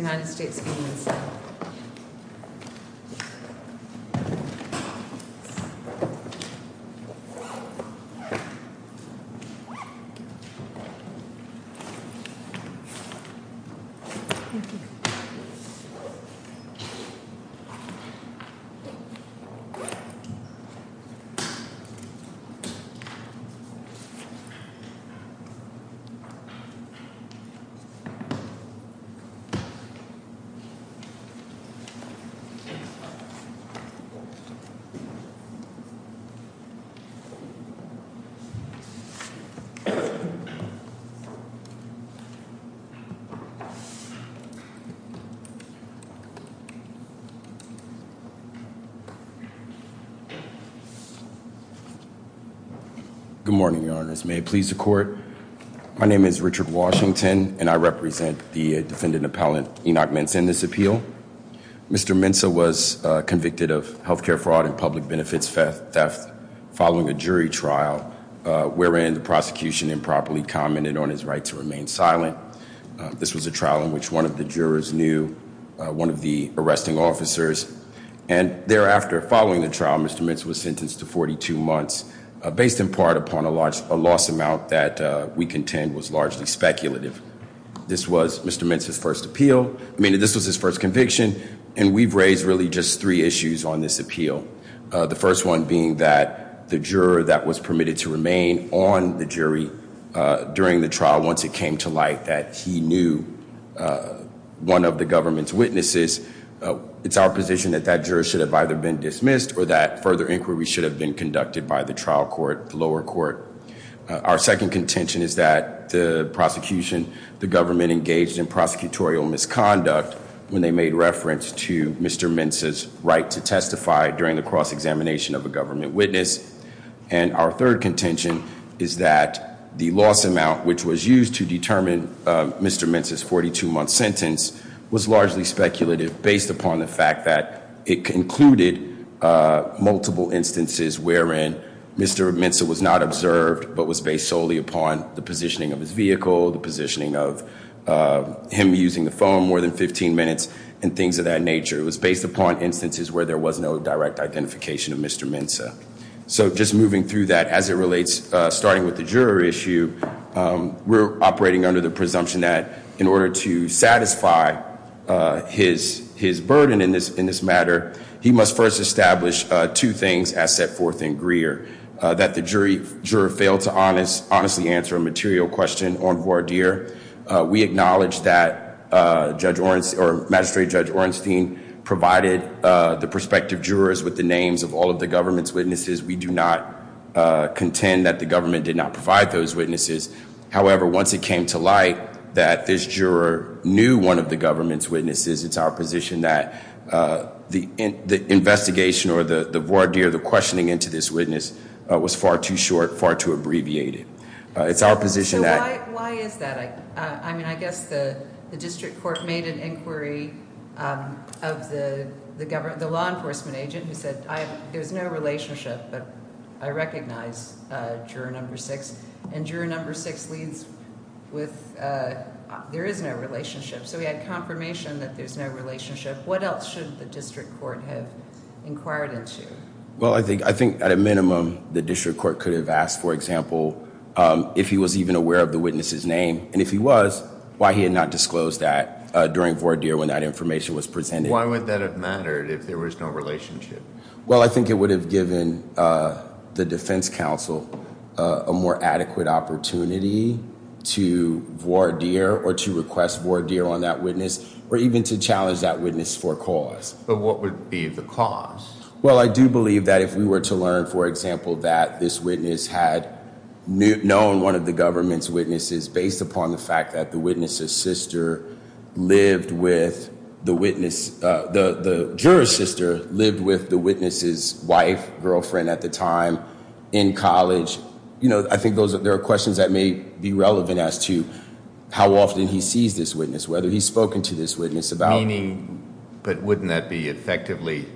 United States v. Mensah. Good morning, your honors. May it please the court. My name is Richard Washington, and I represent the defendant appellant, Enoch Mensah, in this appeal. Mr. Mensah was convicted of healthcare fraud and public benefits theft following a jury trial, wherein the prosecution improperly commented on his right to remain silent. This was a trial in which one of the jurors knew one of the arresting officers. And thereafter, following the trial, Mr. Mensah was sentenced to 42 months, based in part upon a loss amount that we contend was largely speculative. This was Mr. Mensah's first appeal, I mean this was his first conviction, and we've raised really just three issues on this appeal. The first one being that the juror that was permitted to remain on the jury during the trial once it came to light that he knew one of the government's witnesses. It's our position that that juror should have either been dismissed or that further inquiry should have been conducted by the trial court, the lower court. Our second contention is that the prosecution, the government engaged in prosecutorial misconduct when they made reference to Mr. Mensah's right to testify during the cross-examination of a government witness. And our third contention is that the loss amount which was used to determine Mr. Mensah's death was largely speculative based upon the fact that it included multiple instances wherein Mr. Mensah was not observed, but was based solely upon the positioning of his vehicle, the positioning of him using the phone more than 15 minutes, and things of that nature. It was based upon instances where there was no direct identification of Mr. Mensah. So just moving through that as it relates, starting with the juror issue, we're operating under the presumption that in order to satisfy his burden in this matter, he must first establish two things as set forth in Greer. That the juror failed to honestly answer a material question on voir dire. We acknowledge that magistrate Judge Ornstein provided the prospective jurors with the names of all of the government's witnesses. We do not contend that the government did not provide those witnesses. However, once it came to light that this juror knew one of the government's witnesses, it's our position that the investigation or the voir dire, the questioning into this witness was far too short, far too abbreviated. It's our position that- So why is that? I mean, I guess the district court made an inquiry of the law enforcement agent who said, there's no relationship, but I recognize juror number six. And juror number six leads with, there is no relationship. So we had confirmation that there's no relationship. What else should the district court have inquired into? Well, I think at a minimum, the district court could have asked, for example, if he was even aware of the witness's name. And if he was, why he had not disclosed that during voir dire when that information was presented. Why would that have mattered if there was no relationship? Well, I think it would have given the defense council a more adequate opportunity to voir dire or to request voir dire on that witness, or even to challenge that witness for cause. But what would be the cause? Well, I do believe that if we were to learn, for example, that this witness had known one of the government's witnesses based upon the fact that the witness's sister lived with the witness, the juror's sister lived with the witness's wife, girlfriend at the time, in college, I think there are questions that may be relevant as to how often he sees this witness, whether he's spoken to this witness about- Meaning, but wouldn't that be effectively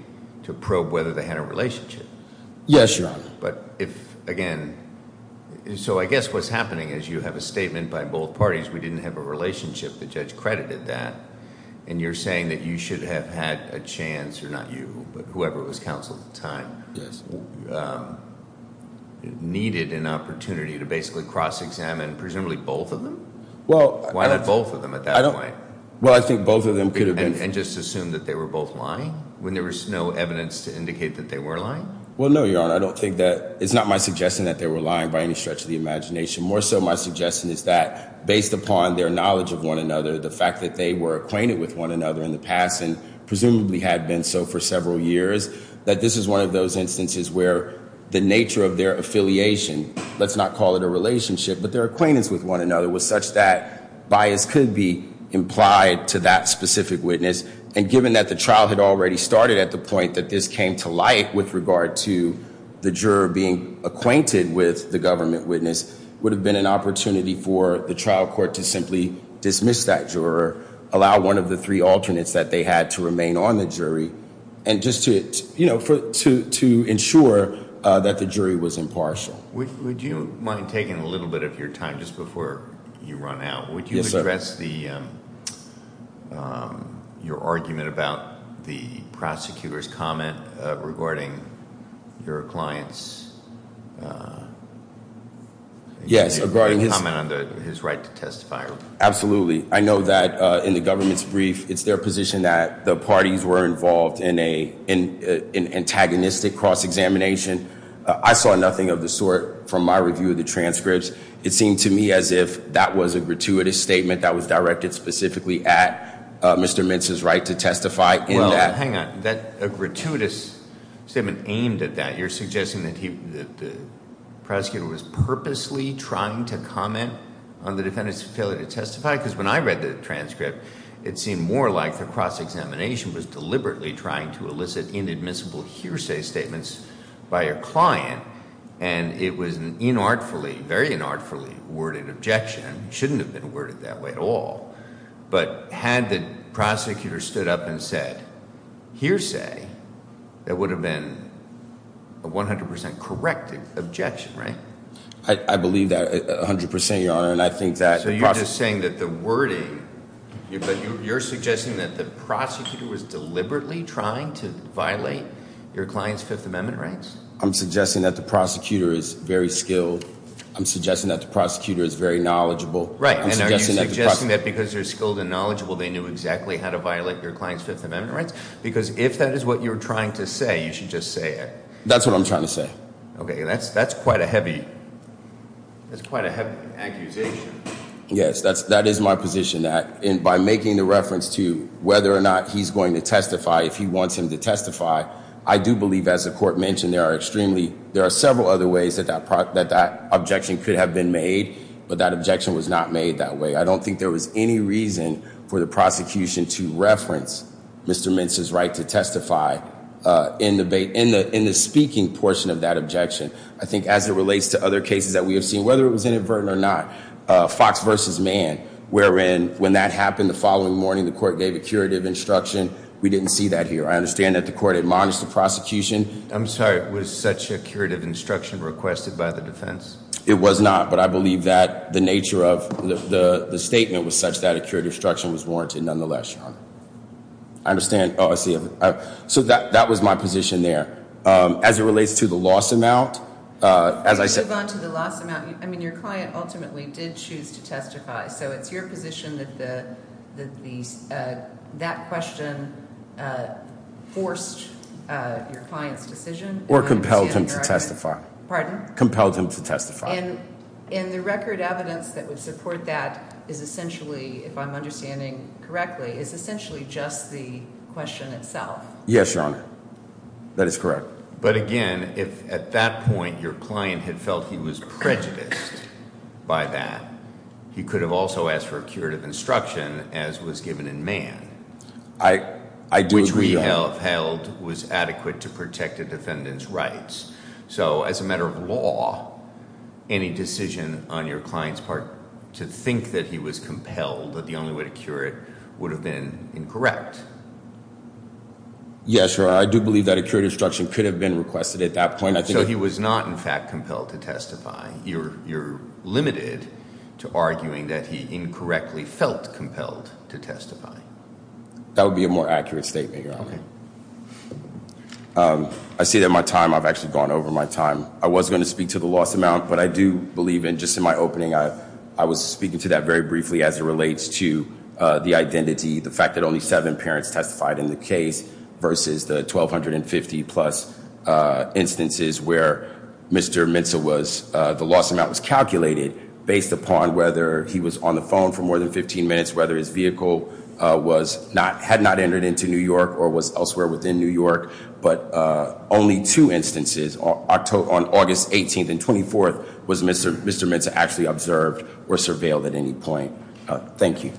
to probe whether they had a relationship? Yes, Your Honor. But if, again, so I guess what's happening is you have a statement by both parties. We didn't have a relationship. The judge credited that. And you're saying that you should have had a chance, or not you, but whoever was counsel at the time, needed an opportunity to basically cross-examine presumably both of them? Well- Why not both of them at that point? Well, I think both of them could have been- And just assume that they were both lying when there was no evidence to indicate that they were lying? Well, no, Your Honor. I don't think that, it's not my suggestion that they were lying by any stretch of the imagination. More so, my suggestion is that, based upon their knowledge of one another, the fact that they were acquainted with one another in the past, and presumably had been so for several years, that this is one of those instances where the nature of their affiliation, let's not call it a relationship, but their acquaintance with one another was such that bias could be implied to that specific witness. And given that the trial had already started at the point that this came to light with regard to the juror being acquainted with the government witness, would have been an opportunity for the trial court to simply dismiss that juror, allow one of the three alternates that they had to remain on the jury, and just to ensure that the jury was impartial. Would you mind taking a little bit of your time just before you run out? Yes, sir. Can you address your argument about the prosecutor's comment regarding your client's- Yes, regarding his- Comment on his right to testify. Absolutely. I know that in the government's brief, it's their position that the parties were involved in an antagonistic cross-examination. I saw nothing of the sort from my review of the transcripts. It seemed to me as if that was a gratuitous statement that was directed specifically at Mr. Mintz's right to testify in that- Hang on, a gratuitous statement aimed at that. You're suggesting that the prosecutor was purposely trying to comment on the defendant's failure to testify? because when I read the transcript, it seemed more like the cross-examination was deliberately trying to elicit inadmissible hearsay statements by a client. And it was an inartfully, very inartfully worded objection. Shouldn't have been worded that way at all. But had the prosecutor stood up and said hearsay, that would have been a 100% correct objection, right? I believe that 100%, Your Honor, and I think that- So you're just saying that the wording, you're suggesting that the prosecutor was deliberately trying to violate your client's Fifth Amendment rights? I'm suggesting that the prosecutor is very skilled. I'm suggesting that the prosecutor is very knowledgeable. Right, and are you suggesting that because they're skilled and knowledgeable, they knew exactly how to violate your client's Fifth Amendment rights? Because if that is what you're trying to say, you should just say it. That's what I'm trying to say. Okay, that's quite a heavy accusation. Yes, that is my position, that by making the reference to whether or not he's going to testify, if he wants him to testify, I do believe, as the court mentioned, there are several other ways that that objection could have been made, but that objection was not made that way. I don't think there was any reason for the prosecution to reference Mr. Mintz's right to testify in the speaking portion of that objection. I think as it relates to other cases that we have seen, whether it was inadvertent or not, Fox versus Mann, wherein when that happened the following morning, the court gave a curative instruction, we didn't see that here. I understand that the court admonished the prosecution. I'm sorry, was such a curative instruction requested by the defense? It was not, but I believe that the nature of the statement was such that a curative instruction was warranted nonetheless, Sean. I understand, I see. So that was my position there. As it relates to the loss amount, as I said- So it's your position that that question forced your client's decision? Or compelled him to testify. Pardon? Compelled him to testify. And the record evidence that would support that is essentially, if I'm understanding correctly, is essentially just the question itself. Yes, Your Honor. That is correct. But again, if at that point your client had felt he was prejudiced by that, he could have also asked for a curative instruction, as was given in Mann. I do agree, Your Honor. Which we have held was adequate to protect a defendant's rights. So as a matter of law, any decision on your client's part to think that he was compelled, that the only way to cure it, would have been incorrect. Yes, Your Honor, I do believe that a curative instruction could have been requested at that point. I think- So he was not, in fact, compelled to testify. You're limited to arguing that he incorrectly felt compelled to testify. That would be a more accurate statement, Your Honor. Okay. I see that my time, I've actually gone over my time. I was going to speak to the loss amount, but I do believe in just in my opening, I was speaking to that very briefly as it relates to the identity, the fact that only seven parents testified in the case versus the 1,250 plus instances where Mr. Mensa was, the loss amount was calculated based upon whether he was on the phone for more than 15 minutes. Whether his vehicle had not entered into New York or was elsewhere within New York. But only two instances, on August 18th and 24th, was Mr. Mensa actually observed or surveilled at any point. Thank you.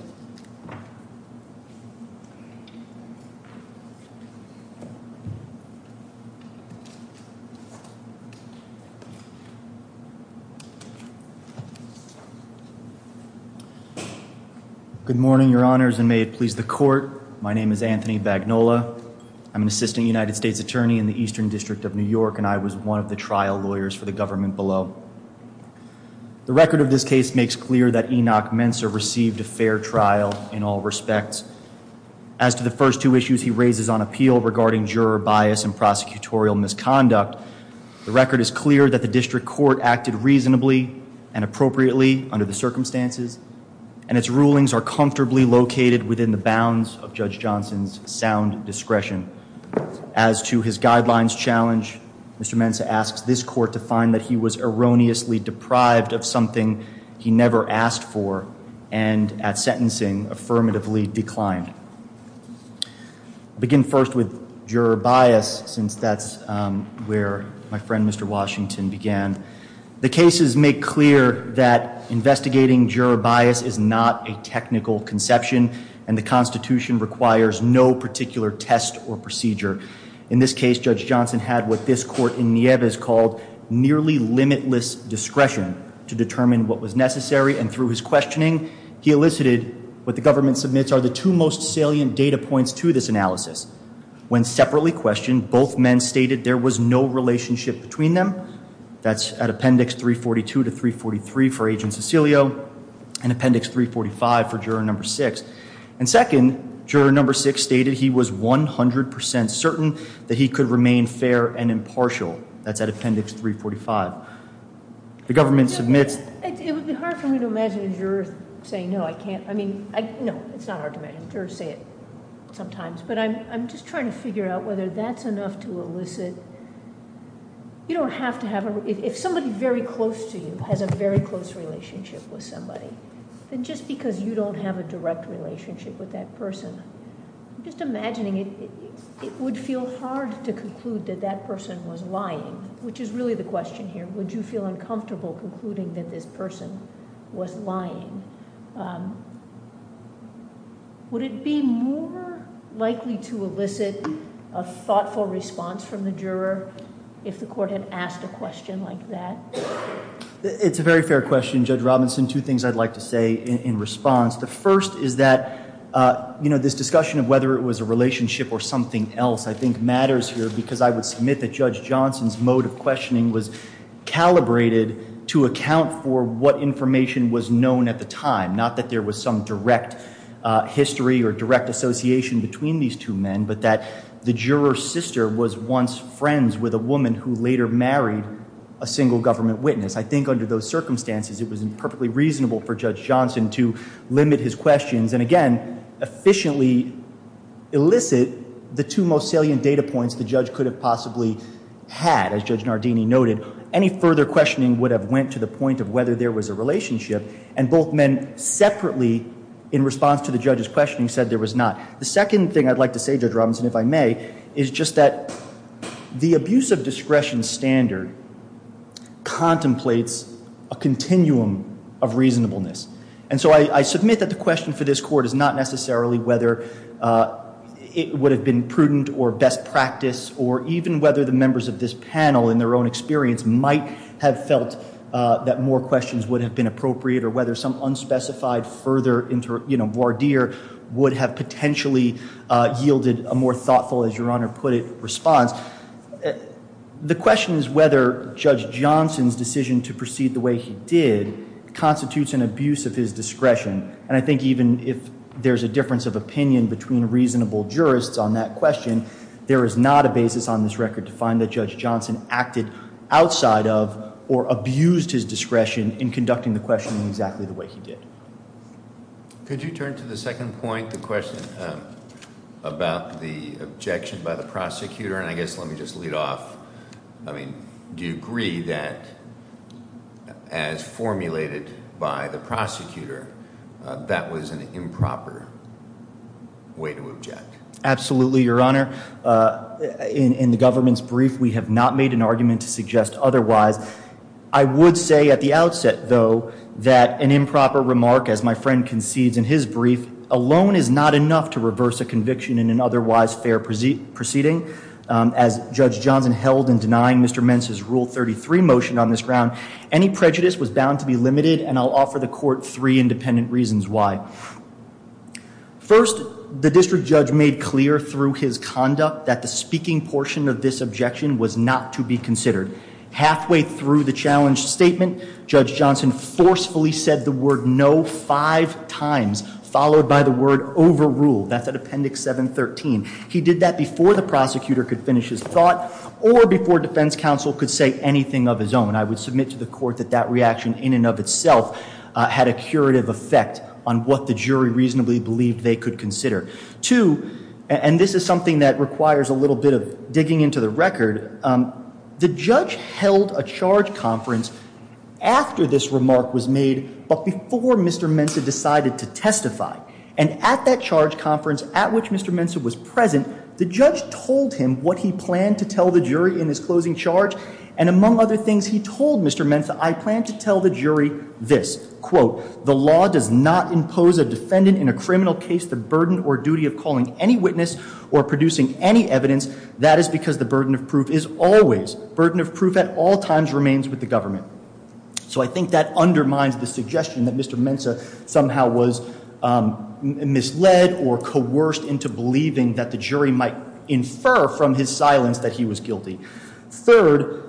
Good morning, your honors, and may it please the court. My name is Anthony Bagnola. I'm an assistant United States attorney in the Eastern District of New York, and I was one of the trial lawyers for the government below. The record of this case makes clear that Enoch Mensa received a fair trial in all respects. As to the first two issues he raises on appeal regarding juror bias and prosecutorial misconduct, the record is clear that the district court acted reasonably and appropriately under the circumstances. And its rulings are comfortably located within the bounds of Judge Johnson's sound discretion. As to his guidelines challenge, Mr. Mensa asks this court to find that he was erroneously deprived of something he never asked for. And at sentencing, affirmatively declined. Begin first with juror bias, since that's where my friend Mr. Washington began. The cases make clear that investigating juror bias is not a technical conception, and the constitution requires no particular test or procedure. In this case, Judge Johnson had what this court in Nieves called nearly limitless discretion to determine what was necessary, and through his questioning, he elicited what the government submits are the two most salient data points to this analysis. When separately questioned, both men stated there was no relationship between them. That's at appendix 342 to 343 for Agent Cecilio, and appendix 345 for juror number six. And second, juror number six stated he was 100% certain that he could remain fair and impartial. That's at appendix 345. The government submits. It would be hard for me to imagine a juror saying no, I can't. I mean, no, it's not hard to imagine jurors say it sometimes, but I'm just trying to figure out whether that's enough to elicit. You don't have to have a, if somebody very close to you has a very close relationship with somebody, then just because you don't have a direct relationship with that person. I'm just imagining it would feel hard to conclude that that person was lying, which is really the question here. Would you feel uncomfortable concluding that this person was lying? Would it be more likely to elicit a thoughtful response from the juror if the court had asked a question like that? It's a very fair question, Judge Robinson. Two things I'd like to say in response. The first is that this discussion of whether it was a relationship or something else, I think matters here because I would submit that Judge Johnson's mode of questioning was calibrated to account for what information was known at the time. Not that there was some direct history or direct association between these two men, but that the juror's sister was once friends with a woman who later married a single government witness. I think under those circumstances, it was perfectly reasonable for Judge Johnson to limit his questions, and again, efficiently elicit the two most salient data points the judge could have possibly had, as Judge Nardini noted. Any further questioning would have went to the point of whether there was a relationship, and both men separately, in response to the judge's questioning, said there was not. The second thing I'd like to say, Judge Robinson, if I may, is just that the abuse of discretion standard contemplates a continuum of reasonableness. And so I submit that the question for this court is not necessarily whether it would have been prudent or best practice, or even whether the members of this panel in their own experience might have felt that more questions would have been appropriate, or whether some unspecified further voir dire would have potentially yielded a more thoughtful, as your Honor put it, response. The question is whether Judge Johnson's decision to proceed the way he did constitutes an abuse of his discretion. And I think even if there's a difference of opinion between reasonable jurists on that question, there is not a basis on this record to find that Judge Johnson acted outside of or abused his discretion in conducting the questioning exactly the way he did. Could you turn to the second point, the question about the objection by the prosecutor, and I guess let me just lead off. I mean, do you agree that as formulated by the prosecutor, that was an improper way to object? Absolutely, your Honor. In the government's brief, we have not made an argument to suggest otherwise. I would say at the outset, though, that an improper remark, as my friend concedes in his brief, alone is not enough to reverse a conviction in an otherwise fair proceeding. As Judge Johnson held in denying Mr. Mensa's Rule 33 motion on this ground, any prejudice was bound to be limited, and I'll offer the court three independent reasons why. First, the district judge made clear through his conduct that the speaking portion of this objection was not to be considered. Halfway through the challenge statement, Judge Johnson forcefully said the word no five times, followed by the word overruled, that's at Appendix 713. He did that before the prosecutor could finish his thought, or before defense counsel could say anything of his own. And I would submit to the court that that reaction in and of itself had a curative effect on what the jury reasonably believed they could consider. Two, and this is something that requires a little bit of digging into the record, the judge held a charge conference after this remark was made, but before Mr. Mensa decided to testify. And at that charge conference, at which Mr. Mensa was present, the judge told him what he planned to tell the jury in his closing charge. And among other things he told Mr. Mensa, I plan to tell the jury this, quote, the law does not impose a defendant in a criminal case the burden or duty of calling any witness or producing any evidence. That is because the burden of proof is always, burden of proof at all times remains with the government. So I think that undermines the suggestion that Mr. Mensa somehow was misled or coerced into believing that the jury might infer from his silence that he was guilty. Third,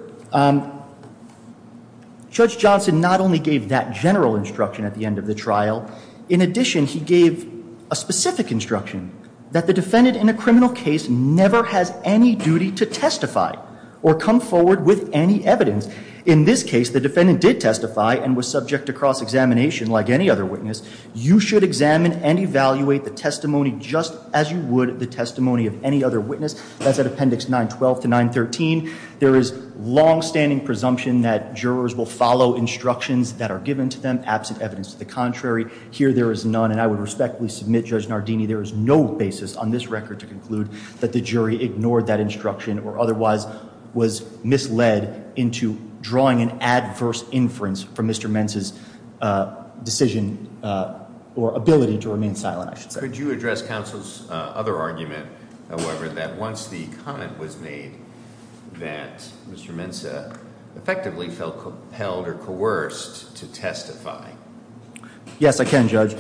Judge Johnson not only gave that general instruction at the end of the trial. In addition, he gave a specific instruction that the defendant in a criminal case never has any duty to testify or come forward with any evidence. In this case, the defendant did testify and was subject to cross-examination like any other witness. You should examine and evaluate the testimony just as you would the testimony of any other witness. That's at appendix 912 to 913. There is long standing presumption that jurors will follow instructions that are given to them, absent evidence to the contrary, here there is none and I would respectfully submit Judge Nardini, there is no basis on this record to conclude that the jury ignored that instruction or otherwise was misled into drawing an adverse inference from Mr. Mensa's decision or ability to remain silent, I should say. Could you address counsel's other argument, however, that once the comment was made that Mr. Mensa effectively felt compelled or coerced to testify? Yes, I can, Judge.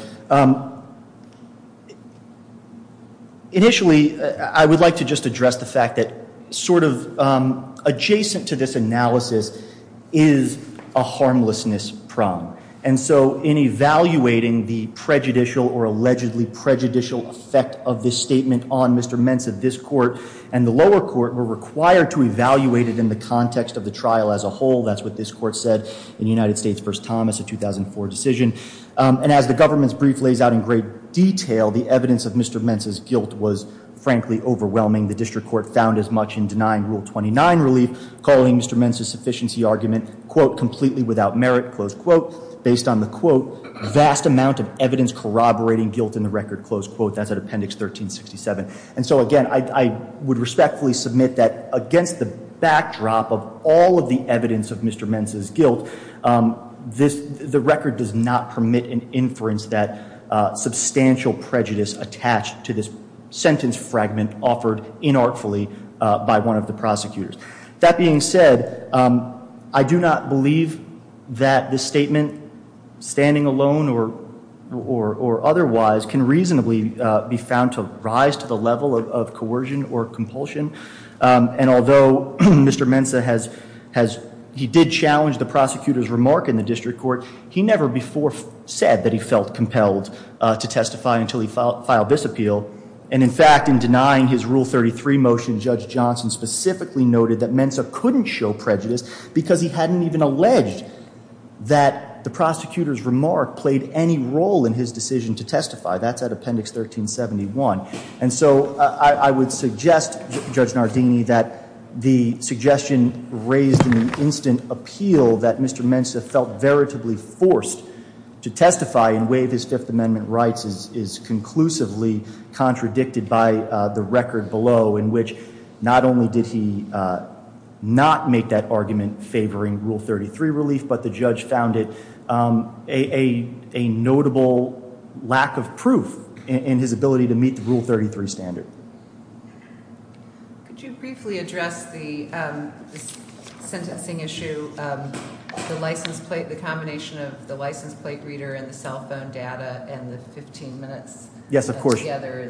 Initially, I would like to just address the fact that sort of adjacent to this analysis is a harmlessness problem. And so in evaluating the prejudicial or allegedly prejudicial effect of this statement on Mr. Mensa, the district court and the lower court were required to evaluate it in the context of the trial as a whole. That's what this court said in United States v. Thomas, a 2004 decision. And as the government's brief lays out in great detail, the evidence of Mr. Mensa's guilt was frankly overwhelming. The district court found as much in denying Rule 29 relief, calling Mr. Mensa's sufficiency argument, quote, completely without merit, close quote. Based on the quote, vast amount of evidence corroborating guilt in the record, close quote. That's at appendix 1367. And so again, I would respectfully submit that against the backdrop of all of the evidence of Mr. Mensa's guilt, the record does not permit an inference that substantial prejudice attached to this sentence fragment offered inartfully by one of the prosecutors. That being said, I do not believe that this statement, standing alone or otherwise, can reasonably be found to rise to the level of coercion or compulsion. And although Mr. Mensa, he did challenge the prosecutor's remark in the district court, he never before said that he felt compelled to testify until he filed this appeal. And in fact, in denying his Rule 33 motion, Judge Johnson specifically noted that Mensa couldn't show prejudice because he hadn't even alleged that the prosecutor's remark played any role in his decision to testify. That's at appendix 1371. And so I would suggest, Judge Nardini, that the suggestion raised in the instant appeal that Mr. Mensa felt veritably forced to testify in way of his Fifth Amendment rights is conclusively contradicted by the record below, in which not only did he not make that argument favoring Rule 33 relief, but the judge found it a notable lack of proof in his ability to meet the Rule 33 standard. Could you briefly address the sentencing issue, the combination of the license plate reader and the cell phone data and the 15 minutes. Yes, of course. Together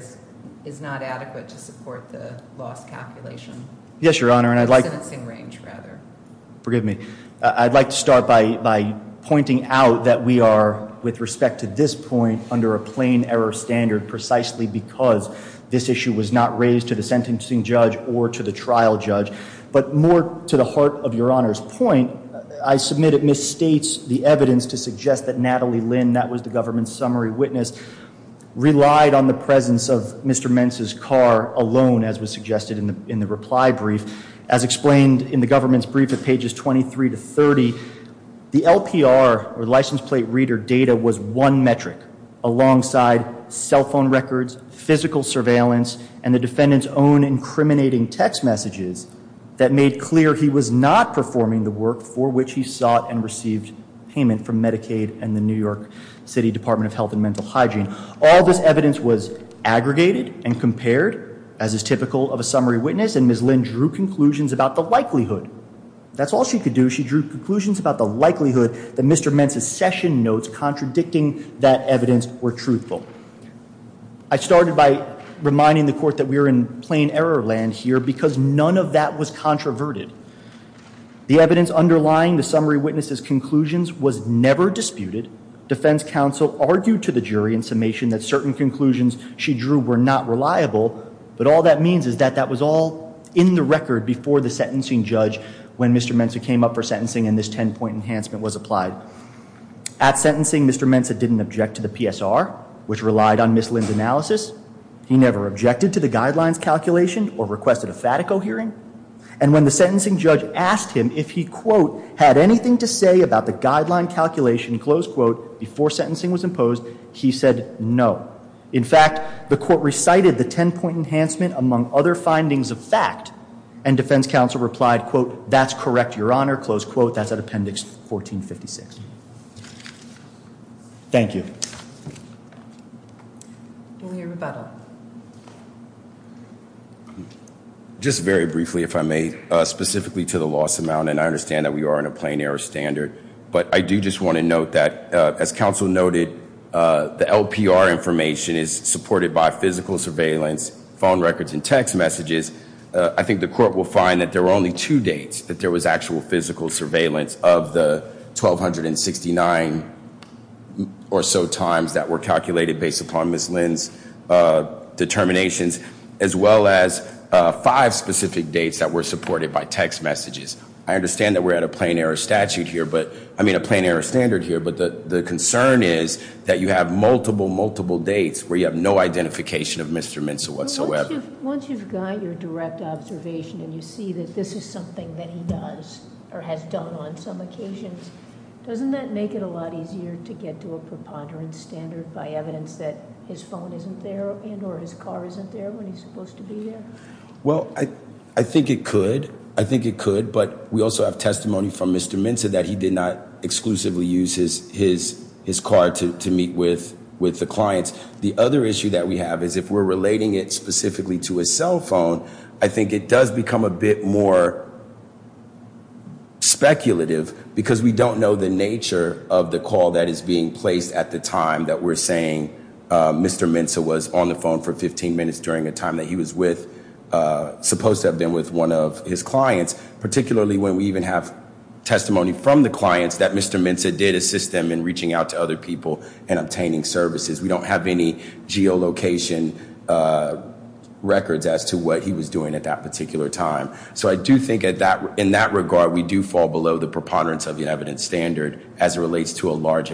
is not adequate to support the loss calculation. Yes, Your Honor, and I'd like- The sentencing range, rather. Forgive me. I'd like to start by pointing out that we are, with respect to this point, under a plain error standard precisely because this issue was not raised to the sentencing judge or to the trial judge. But more to the heart of Your Honor's point, I submit it misstates the evidence to suggest that Natalie Lynn, that was the government's summary witness, relied on the presence of Mr. Mensa's car alone, as was suggested in the reply brief. As explained in the government's brief at pages 23 to 30, the LPR, or license plate reader data, was one metric alongside cell phone records, physical surveillance, and the defendant's own incriminating text messages that made clear he was not performing the work for which he sought and received payment from Medicaid and the New York City Department of Health and Mental Hygiene. All this evidence was aggregated and compared, as is typical of a summary witness, and Ms. Lynn drew conclusions about the likelihood. That's all she could do. She drew conclusions about the likelihood that Mr. Mensa's session notes contradicting that evidence were truthful. I started by reminding the court that we are in plain error land here, because none of that was controverted. The evidence underlying the summary witness's conclusions was never disputed. Defense counsel argued to the jury in summation that certain conclusions she drew were not reliable. But all that means is that that was all in the record before the sentencing judge when Mr. Mensa came up for sentencing and this ten point enhancement was applied. At sentencing, Mr. Mensa didn't object to the PSR, which relied on Ms. Lynn's analysis. He never objected to the guidelines calculation or requested a Fatico hearing. And when the sentencing judge asked him if he, quote, had anything to say about the guideline calculation, close quote, before sentencing was imposed, he said no. In fact, the court recited the ten point enhancement among other findings of fact. And defense counsel replied, quote, that's correct, your honor, close quote, that's at appendix 1456. Thank you. We'll hear rebuttal. Just very briefly, if I may, specifically to the loss amount, and I understand that we are in a plain error standard. But I do just want to note that, as counsel noted, the LPR information is supported by physical surveillance, phone records, and text messages. I think the court will find that there were only two dates that there was actual physical surveillance of the 1,269 or so times that were calculated based upon Ms. Lynn's determinations, as well as five specific dates that were supported by text messages. I understand that we're at a plain error standard here, but the concern is that you have multiple, multiple dates where you have no identification of Mr. Mensa whatsoever. Once you've got your direct observation and you see that this is something that he does or has done on some occasions, doesn't that make it a lot easier to get to a preponderance standard by evidence that his phone isn't there and or his car isn't there when he's supposed to be here? Well, I think it could. I think it could, but we also have testimony from Mr. Mensa that he did not exclusively use his car to meet with the clients. The other issue that we have is if we're relating it specifically to a cell phone, I think it does become a bit more speculative, because we don't know the nature of the call that is being placed at the time that we're saying Mr. Mensa was on the phone for 15 minutes during a time that he was supposed to have been with one of his clients. Particularly when we even have testimony from the clients that Mr. Mensa did assist them in reaching out to other people and obtaining services. We don't have any geolocation records as to what he was doing at that particular time. So I do think in that regard, we do fall below the preponderance of the evidence standard as it relates to a large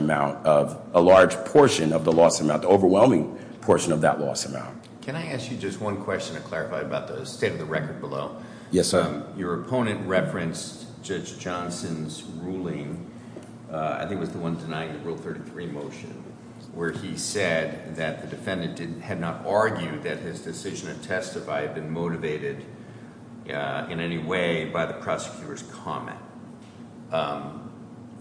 portion of the loss amount, the overwhelming portion of that loss amount. Can I ask you just one question to clarify about the state of the record below? Yes, sir. Your opponent referenced Judge Johnson's ruling, I think it was the one denying the Rule 33 motion, where he said that the defendant had not argued that his decision to testify had been motivated in any way by the prosecutor's comment.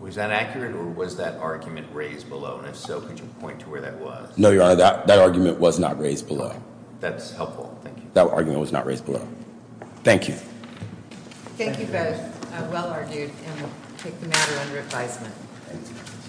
Was that accurate, or was that argument raised below? And if so, could you point to where that was? No, Your Honor, that argument was not raised below. That's helpful, thank you. That argument was not raised below. Thank you. Thank you both, well argued, and we'll take the matter under advisement.